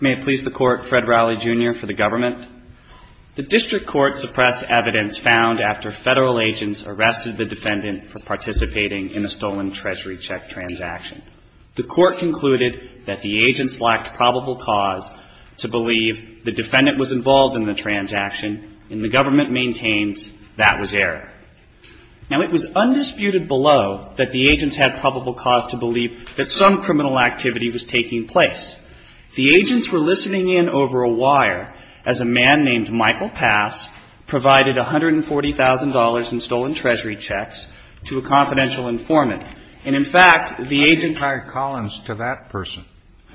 May it please the Court, Fred Rowley, Jr., for the Government. The District Court suppressed evidence found after Federal agents arrested the defendant for participating in a stolen Treasury check transaction. The Court concluded that the agents lacked probable cause to believe the defendant was involved in the transaction, and the Government maintains that was error. Now it was undisputed below that the agents had probable cause to believe that some criminal activity was taking place. The agents were listening in over a wire as a man named Michael Pass provided $140,000 in stolen Treasury checks to a confidential informant. And in fact, the agents – JUSTICE SCALIA How do you tie Collins to that person?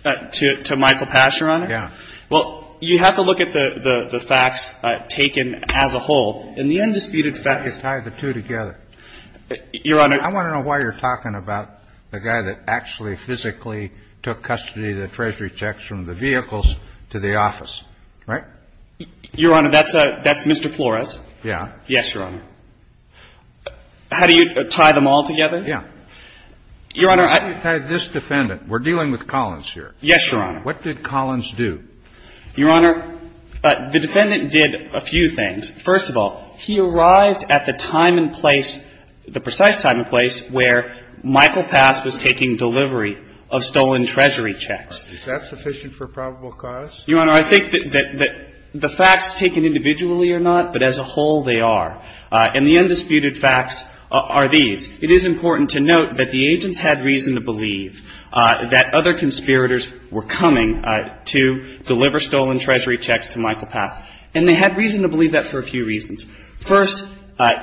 MR. COLLINS To Michael Pass, Your Honor? JUSTICE SCALIA Yeah. MR. COLLINS Well, you have to look at the facts taken as a whole, and the undisputed JUSTICE SCALIA How do you tie the two together? MR. COLLINS Your Honor – JUSTICE SCALIA I'm talking about the guy that actually physically took custody of the Treasury checks from the vehicles to the office, right? MR. COLLINS Your Honor, that's a – that's Mr. Flores. JUSTICE SCALIA Yeah. MR. COLLINS Yes, Your Honor. How do you tie them all together? JUSTICE SCALIA Yeah. MR. COLLINS Your Honor, I – JUSTICE SCALIA How do you tie this defendant? We're dealing with Collins here. MR. COLLINS Yes, Your Honor. JUSTICE SCALIA What did Collins do? MR. COLLINS Your Honor, the defendant did a few things. First of all, he arrived at the time and place, the precise time and place, where Michael Pass was taking delivery of stolen Treasury checks. JUSTICE SCALIA Is that sufficient for probable cause? MR. COLLINS Your Honor, I think that the facts taken individually or not, but as a whole, they are. And the undisputed facts are these. It is important to note that the agents had reason to believe that other conspirators were coming to deliver stolen Treasury checks to Michael Pass. And they had reason to believe that for a few reasons. First,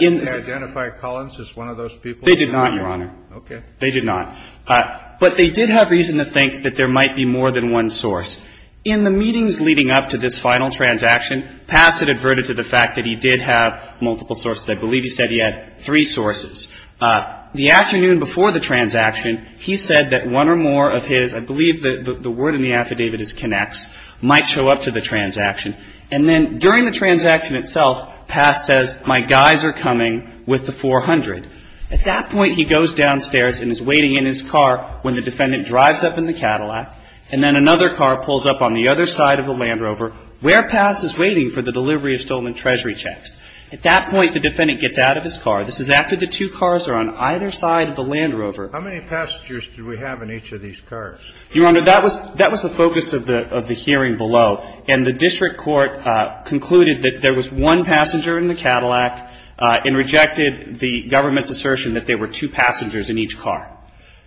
in the – JUSTICE SCALIA Did they identify Collins as one of those people? MR. COLLINS They did not, Your Honor. JUSTICE SCALIA Okay. MR. COLLINS They did not. But they did have reason to think that there might be more than one source. In the meetings leading up to this final transaction, Pass had adverted to the fact that he did have multiple sources. I believe he said he had three sources. The afternoon before the transaction, he said that one or more of his – I believe the word in the affidavit is K'nex – might show up to the transaction. And then during the transaction itself, Pass says, my guys are coming with the 400. At that point, he goes downstairs and is waiting in his car when the defendant drives up in the Cadillac, and then another car pulls up on the other side of the Land Rover, where Pass is waiting for the delivery of stolen Treasury checks. At that point, the defendant gets out of his car. This is after the two cars are on either side of the Land Rover. KENNEDY How many passengers did we have in each of these cars? MR. COLLINS Your Honor, that was – that was the focus of the hearing below. And the district court concluded that there was one passenger in the Cadillac and rejected the government's assertion that there were two passengers in each car.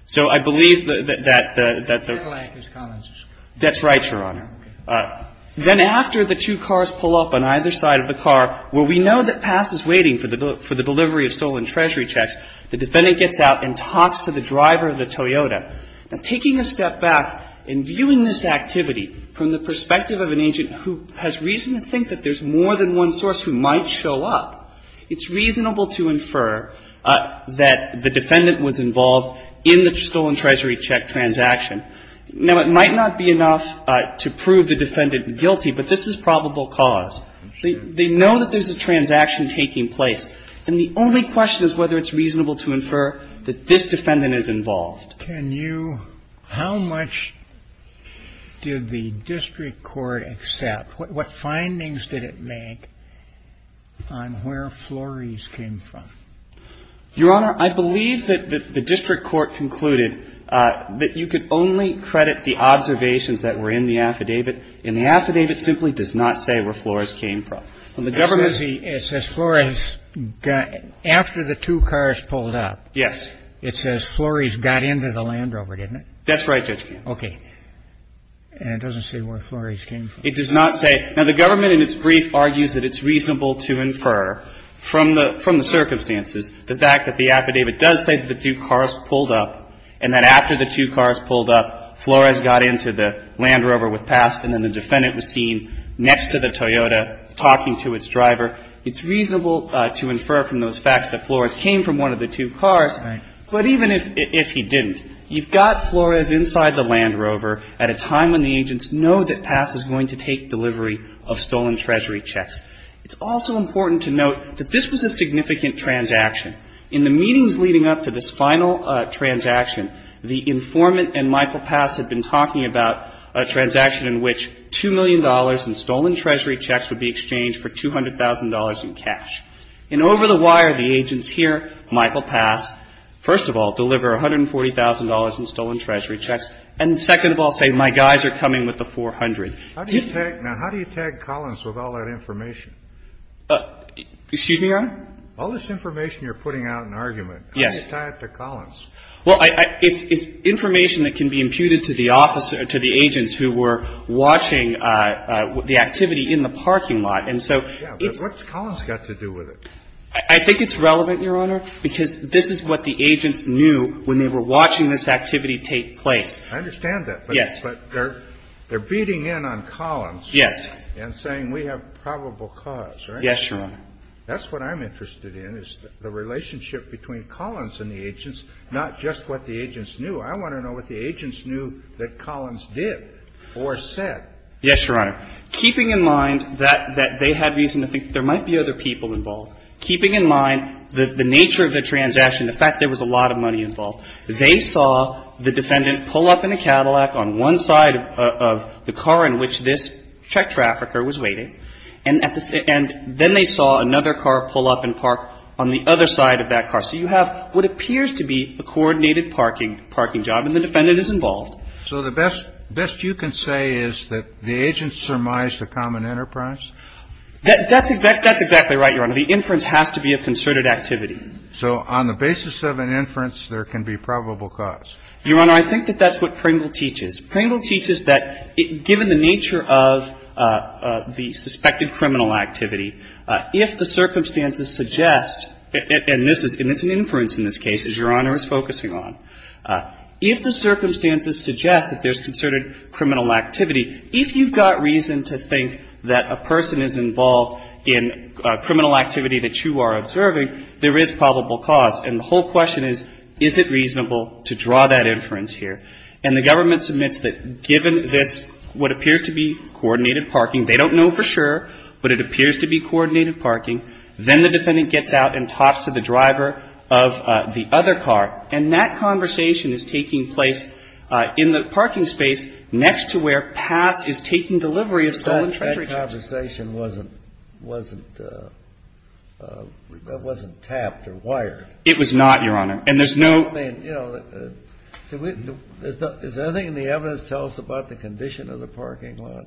So I believe that the – KENNEDY Cadillac is Collins' car. MR. COLLINS That's right, Your Honor. KENNEDY Okay. MR. COLLINS Then after the two cars pull up on either side of the car, where we know that Pass is waiting for the – for the delivery of stolen Treasury checks, the defendant gets out and talks to the driver of the Toyota. Now, taking a step back and viewing this activity from the perspective of an agent who has reason to think that there's more than one source who might show up, it's reasonable to infer that the defendant was involved in the stolen Treasury check transaction. Now, it might not be enough to prove the defendant guilty, but this is KENNEDY I'm sure. MR. COLLINS They know that there's a transaction taking place. And the only question is whether it's reasonable to infer that this defendant is involved. KENNEDY How much did the district court accept? What findings did it make on where Flores came from? MR. COLLINS Your Honor, I believe that the district court concluded that you could only credit the observations that were in the affidavit, and the affidavit simply does not say where Flores came from. KENNEDY It says Flores got – after the two cars pulled up. MR. COLLINS Yes. KENNEDY It says Flores got into the Land Rover, didn't it? MR. COLLINS That's right, Judge Kennedy. KENNEDY Okay. And it doesn't say where Flores came from? MR. COLLINS It does not say. Now, the government in its brief argues that it's reasonable to infer from the circumstances the fact that the affidavit does say that the two cars pulled up, and that after the two cars pulled up, Flores got into the Land Rover with PASP, and then the defendant was seen next to the Toyota talking to its driver. It's reasonable to infer from those facts that Flores came from one of the two cars. MR. COLLINS But even if he didn't, you've got Flores inside the Land Rover at a time when the agents know that PASP is going to take delivery of stolen treasury checks. It's also important to note that this was a significant transaction. In the meetings leading up to this final transaction, the informant and Michael PASP had been talking about a transaction in which $2 million in stolen treasury checks would be exchanged for $200,000 in cash. And over the wire, the agents hear Michael PASP, first of all, deliver $140,000 in stolen treasury checks, and second of all, say, my guys are coming with the $400,000. JUSTICE SCALIA Now, how do you tag Collins with all that information? MR. COLLINS Excuse me, Your Honor? JUSTICE SCALIA All this information you're putting out in argument, how do you tie it to Collins? MR. COLLINS Well, it's information that can be imputed to the officer, to the agents who were watching the activity in the parking lot. And so it's – JUSTICE SCALIA Yeah, but what's Collins got to do with it? MR. COLLINS I think it's relevant, Your Honor, because this is what the agents knew when they were watching this activity take place. JUSTICE SCALIA I understand that. MR. COLLINS Yes. JUSTICE SCALIA But they're beating in on Collins. MR. COLLINS Yes. JUSTICE SCALIA And saying we have probable cause, right? MR. COLLINS Yes, Your Honor. JUSTICE SCALIA That's what I'm interested in, is the relationship between Collins and the agents, not just what the agents knew. I want to know what the agents knew that Collins did or said. MR. COLLINS Yes, Your Honor. Keeping in mind that they had reason to think there might be other people involved, keeping in mind the nature of the transaction, the fact there was a lot of money involved, they saw the defendant pull up in a Cadillac on one side of the car in which this truck trafficker was waiting, and then they saw another car pull up and park on the other side of that car. So you have what appears to be a coordinated parking job, and the defendant is involved. JUSTICE SCALIA So the best you can say is that the agents surmised a common enterprise? MR. COLLINS That's exactly right, Your Honor. The inference has to be of concerted JUSTICE SCALIA So on the basis of an inference, there can be probable cause? MR. COLLINS Your Honor, I think that that's what Pringle teaches. Pringle teaches that given the nature of the suspected criminal activity, if the circumstances suggest, and this is an inference in this case, as Your Honor is focusing on, if the circumstances suggest that there's concerted criminal activity, if you've got reason to think that a person is involved in criminal activity that you are observing, there is probable cause. And the whole question is, is it reasonable to draw that inference here? And the government submits that given this, what appears to be coordinated parking, they don't know for sure, but it appears to be coordinated parking, then the defendant gets out and talks to the driver of the other car. And that conversation is taking place in the parking space next to where PASS is taking delivery of stolen treasures. JUSTICE SCALIA That conversation wasn't tapped or wired. MR. COLLINS It was not, Your Honor. And there's no JUSTICE SCALIA I mean, you know, is there anything in the evidence that tells us about the condition of the parking lot?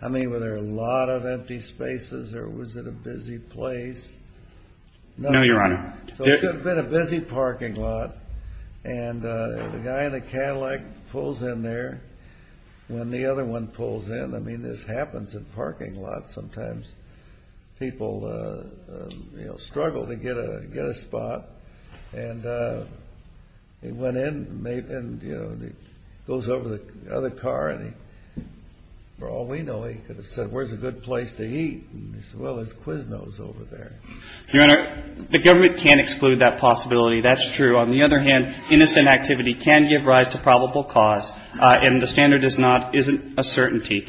I mean, were there a lot of empty spaces or was it a busy place? MR. COLLINS No, Your Honor. JUSTICE SCALIA So it could have been a busy parking lot, and the guy in the Cadillac pulls in there. When the other one pulls in, I mean, this happens in parking lots. Sometimes people, you know, struggle to get a spot. And he went in and, you know, goes over to the other car, and for all we know, he could have said, where's a good place to eat? And he said, well, there's Quizno's over there. MR. COLLINS Your Honor, the government can't exclude that possibility. That's true. On the other hand, innocent activity can give rise to probable cause, and the standard is not, isn't a certainty.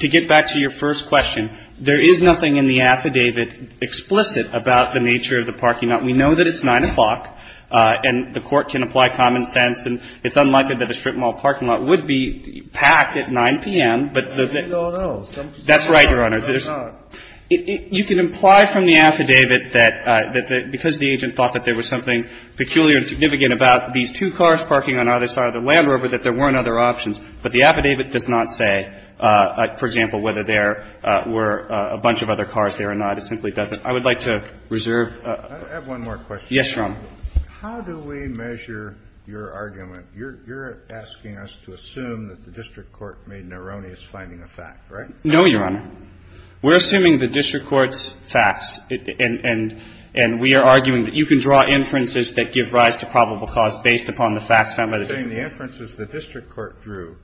To get back to your first question, there is nothing in the affidavit explicit about the nature of the parking lot. We know that it's 9 o'clock, and the Court can apply common sense, and it's unlikely that a strip mall parking lot would be packed at 9 p.m. JUSTICE SCALIA No, no, no. MR. COLLINS That's right, Your Honor. JUSTICE SCALIA No, it's not. MR. COLLINS You can imply from the affidavit that because the agent thought that there was something peculiar and significant about these two cars parking on either side of the Land Rover that there weren't other options, but the affidavit does not say, for example, whether there were a bunch of other cars there or not. It simply doesn't. I would like to reserve. JUSTICE ALITO I have one more question. MR. COLLINS Yes, Your Honor. JUSTICE ALITO How do we measure your argument? You're asking us to assume that the district court made an erroneous finding of fact, right? MR. COLLINS No, Your Honor. We're assuming the district court's facts, and we are inferences that give rise to probable cause based upon the facts found by the district court. JUSTICE ALITO You're saying the inferences the district court drew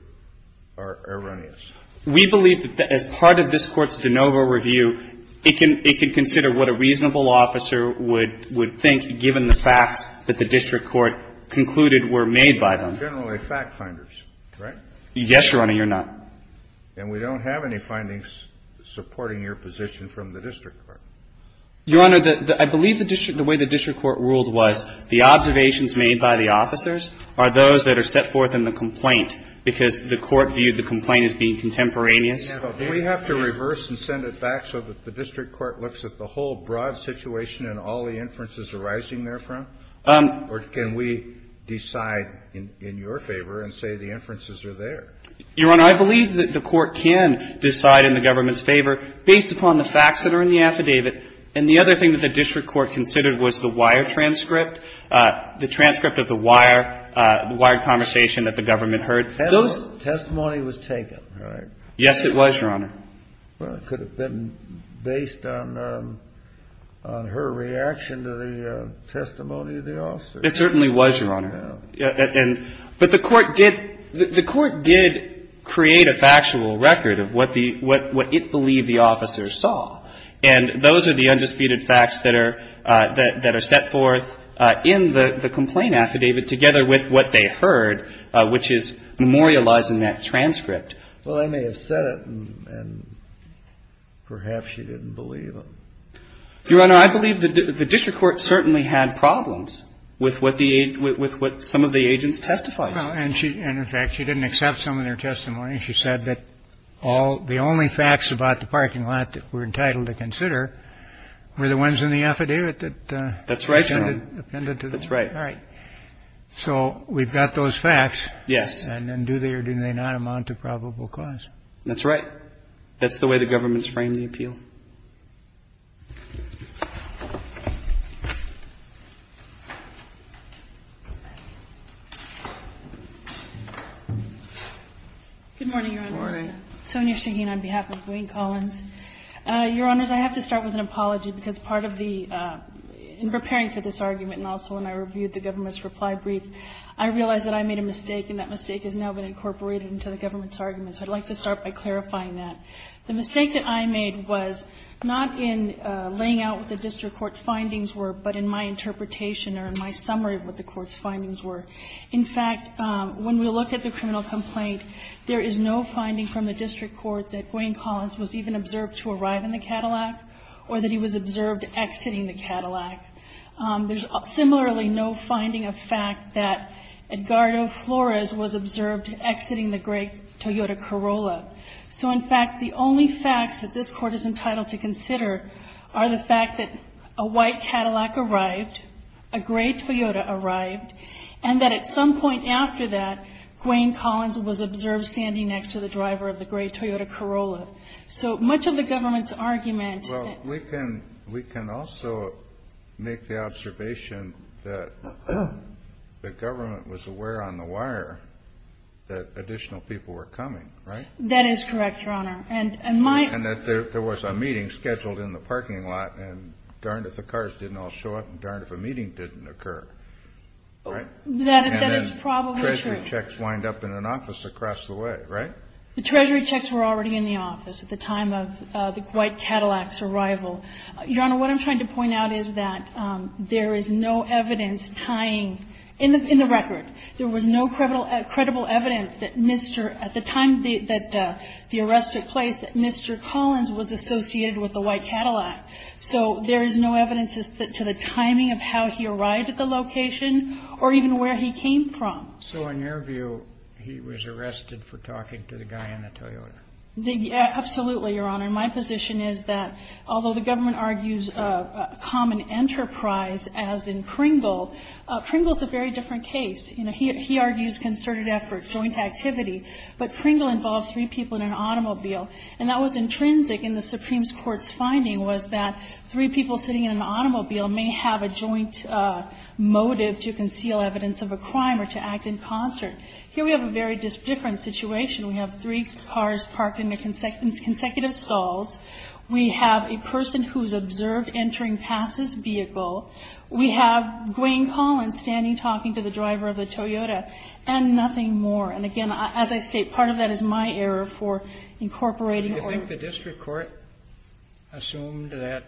are erroneous. MR. COLLINS We believe that as part of this Court's de novo review, it can consider what a reasonable officer would think given the facts that the district court concluded were made by them. JUSTICE ALITO They're generally fact finders, right? MR. COLLINS Yes, Your Honor. You're not. JUSTICE ALITO Then we don't have any findings supporting your position from the district court. MR. COLLINS Your Honor, I believe the way the district court ruled was the observations made by the officers are those that are set forth in the complaint, because the court viewed the complaint as being contemporaneous. JUSTICE ALITO Do we have to reverse and send it back so that the district court looks at the whole broad situation and all the inferences arising therefrom? Or can we decide in your favor and say the inferences are there? MR. COLLINS Your Honor, I believe that the court can decide in the government's favor. And the other thing that the district court considered was the wire transcript, the transcript of the wire, the wired conversation that the government heard. JUSTICE KENNEDY Testimony was taken, right? MR. COLLINS Yes, it was, Your Honor. JUSTICE KENNEDY Well, it could have been based on her reaction to the testimony of the officers. MR. COLLINS It certainly was, Your Honor. JUSTICE KENNEDY Yeah. MR. COLLINS But the court did create a factual record of what it believed the officers saw. And those are the undisputed facts that are set forth in the complaint affidavit together with what they heard, which is memorializing that transcript. JUSTICE KENNEDY Well, they may have said it, and perhaps she didn't believe it. MR. COLLINS Your Honor, I believe the district court certainly had problems with what some of the agents testified. JUSTICE KENNEDY Well, and in fact, she didn't accept some of their testimony. She said that all the only facts about the parking lot that we're entitled to consider were the ones in the affidavit that... MR. COLLINS That's right, Your Honor. JUSTICE KENNEDY ...appended to the... MR. COLLINS That's right. JUSTICE KENNEDY All right. So we've got those facts. MR. COLLINS Yes. JUSTICE KENNEDY And then do they or do they not amount to probable cause? MR. COLLINS That's right. That's the way the government's framed the appeal. MS. SHAHEEN Good morning, Your Honors. MR. COLLINS Good morning. MS. SHAHEEN Sonia Shaheen on behalf of Wayne Collins. Your Honors, I have to start with an apology, because part of the – in preparing for this argument and also when I reviewed the government's reply brief, I realized that I made a mistake, and that mistake has now been incorporated into the government's report. So let me start by clarifying that. The mistake that I made was not in laying out what the district court's findings were, but in my interpretation or in my summary of what the court's findings were. In fact, when we look at the criminal complaint, there is no finding from the district court that Wayne Collins was even observed to arrive in the Cadillac or that he was observed exiting the Cadillac. There's similarly no finding of fact that Edgardo Flores was observed exiting the gray Toyota Corolla. So in fact, the only facts that this court is entitled to consider are the fact that a white Cadillac arrived, a gray Toyota arrived, and that at some point after that, Wayne Collins was observed standing next to the driver of the gray Toyota Corolla. So much of the government's argument – MR. COLLINS Well, we can – we can also make the observation that the government was aware on the wire that additional people were coming, right? MS. GOTTLIEB That is correct, Your Honor. And my – MR. COLLINS And that there was a meeting scheduled in the parking lot and darned if the cars didn't all show up and darned if a meeting didn't occur, right? MS. GOTTLIEB That is probably true. MR. COLLINS And then Treasury checks wind up in an office across the way, right? MS. GOTTLIEB The Treasury checks were already in the office at the time of the white Cadillac's arrival. Your Honor, what I'm trying to point out is that there is no evidence tying – in the record, there was no credible evidence that Mr. – at the time that the arrest took place, that Mr. Collins was associated with the white Cadillac. So there is no evidence as to the timing of how he arrived at the location or even where he came from. MR. COLLINS So in your view, he was arrested for talking to the guy in the Toyota? MS. GOTTLIEB Absolutely, Your Honor. My position is that although the government argues common enterprise as in Kringle, Kringle is a very different case. You know, he argues concerted effort, joint activity, but Kringle involved three people in an automobile. And that was intrinsic in the Supreme Court's finding was that three people sitting in an automobile may have a joint motive to conceal evidence of a crime or to act in concert. Here we have a very different situation. We have three officers observed entering past this vehicle. We have Gwaine Collins standing talking to the driver of the Toyota and nothing more. And again, as I state, part of that is my error for incorporating – MR. COLLINS Do you think the district court assumed that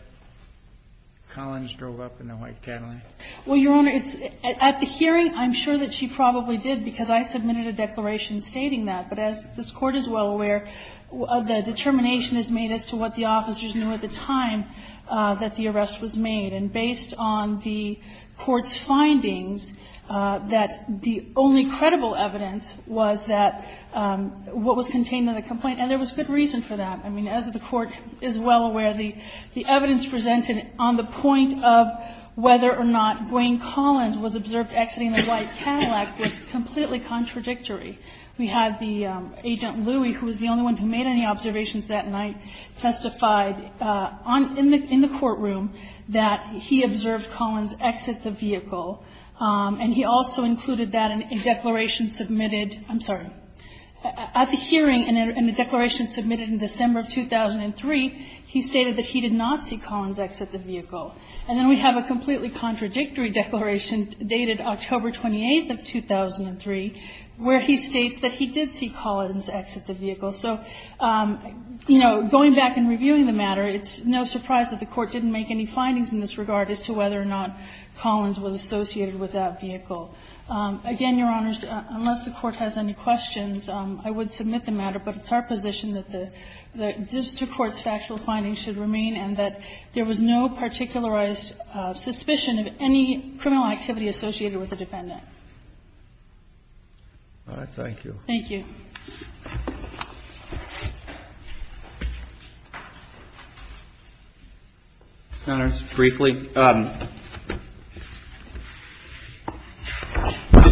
Collins drove up in the white Cadillac? MS. GOTTLIEB Well, Your Honor, it's – at the hearing, I'm sure that she probably did because I submitted a declaration stating that. But as this Court is well aware, the determination is made as to what the officers knew at the time that the arrest was made. And based on the Court's findings, that the only credible evidence was that what was contained in the complaint, and there was good reason for that. I mean, as the Court is well aware, the evidence presented on the point of whether or not Gwaine Collins was observed exiting the white Cadillac was completely contradictory. We have the – Agent Louie, who was the only one who made any observations that night, testified in the courtroom that he observed Collins exit the vehicle. And he also included that in a declaration submitted – I'm sorry – at the hearing in a declaration submitted in December of 2003, he stated that he did not see Collins exit the vehicle. And then we have a completely contradictory declaration dated October 28th of 2003, where he states that he did see Collins exit the vehicle. So, you know, going back and reviewing the matter, it's no surprise that the Court didn't make any findings in this regard as to whether or not Collins was associated with that vehicle. Again, Your Honors, unless the Court has any questions, I would submit the matter. But it's our position that the district court's factual findings should remain and that there was no particularized suspicion of any criminal activity associated with the defendant. All right. Thank you. Thank you. Your Honors, briefly, the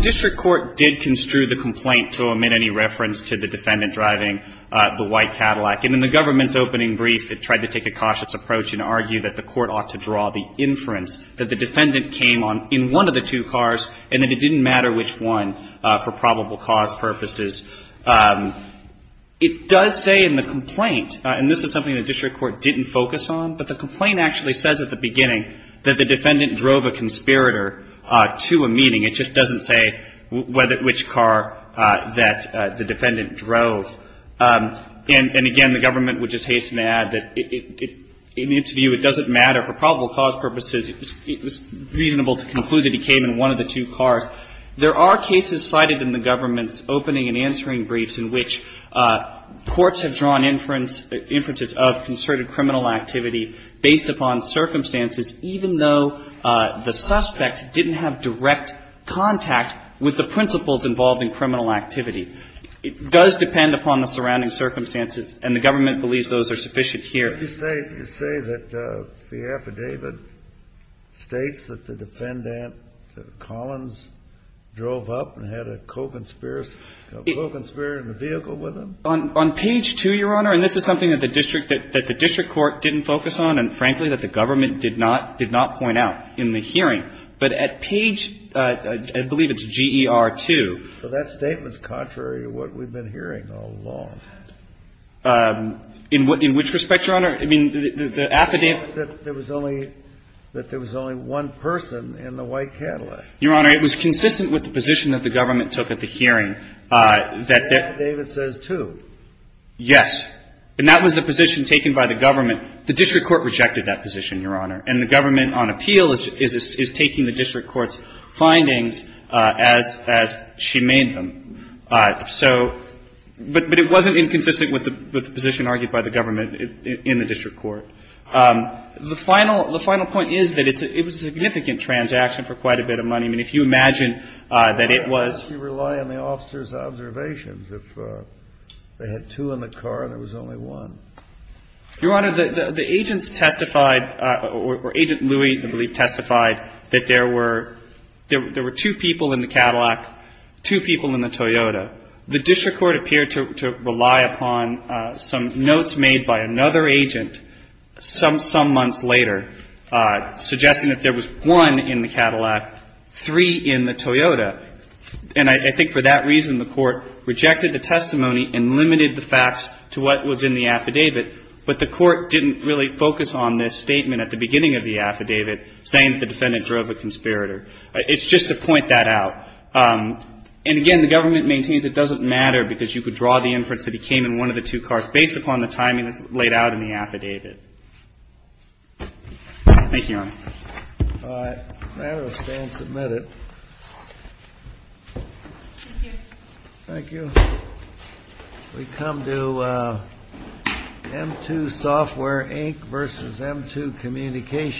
district court did construe the complaint to omit any reference to the defendant driving the white Cadillac. And in the government's opening brief, it tried to take a cautious approach and argue that the court ought to draw the inference that the defendant came on in one of the two cars and that it didn't matter which one for probable cause purposes. It does say in the complaint and this is something the district court didn't focus on, but the complaint actually says at the beginning that the defendant drove a conspirator to a meeting. It just doesn't say which car that the defendant drove. And again, the government would just hasten to add that in its view, it doesn't matter for probable cause purposes. It was reasonable to conclude that he came in one of the two cars. There are cases cited in the government's opening and answering briefs in which courts have drawn inferences of concerted criminal activity based upon circumstances even though the suspect didn't have direct contact with the principles involved in criminal activity. It does depend upon the surrounding circumstances and the government believes those are sufficient here. You say that the affidavit states that the defendant, Collins, drove up and had a co-conspirator in the vehicle with him? On page 2, Your Honor, and this is something that the district court didn't focus on and frankly that the government did not point out in the hearing. But at page, I believe it's GER2. So that statement's contrary to what we've been hearing all along. In which respect, Your Honor? I mean, the affidavit. That there was only one person in the white Cadillac. Your Honor, it was consistent with the position that the government took at the hearing that that. The affidavit says two. Yes. And that was the position taken by the government. The district court rejected court's findings as she made them. So, but it wasn't inconsistent with the position argued by the government in the district court. The final point is that it was a significant transaction for quite a bit of money. I mean, if you imagine that it was. You rely on the officer's observations. If they had two in the car and there was only one. Your Honor, the agents testified or Agent Louie, I believe, testified that there were. There were two people in the Cadillac. Two people in the Toyota. The district court appeared to rely upon some notes made by another agent. Some months later. Suggesting that there was one in the Cadillac. Three in the Toyota. And I think for that reason, the court rejected the testimony and limited the affidavit. But the court didn't really focus on this statement at the beginning of the affidavit. Saying the defendant drove a conspirator. It's just to point that out. And again, the government maintains it doesn't matter because you could draw the inference that he came in one of the two cars based upon the timing that's laid out in the affidavit. Thank you, Your Honor. All right. The matter will stand submitted. Thank you. Thank you. We come to M2 Software Inc. Versus M2 Communications.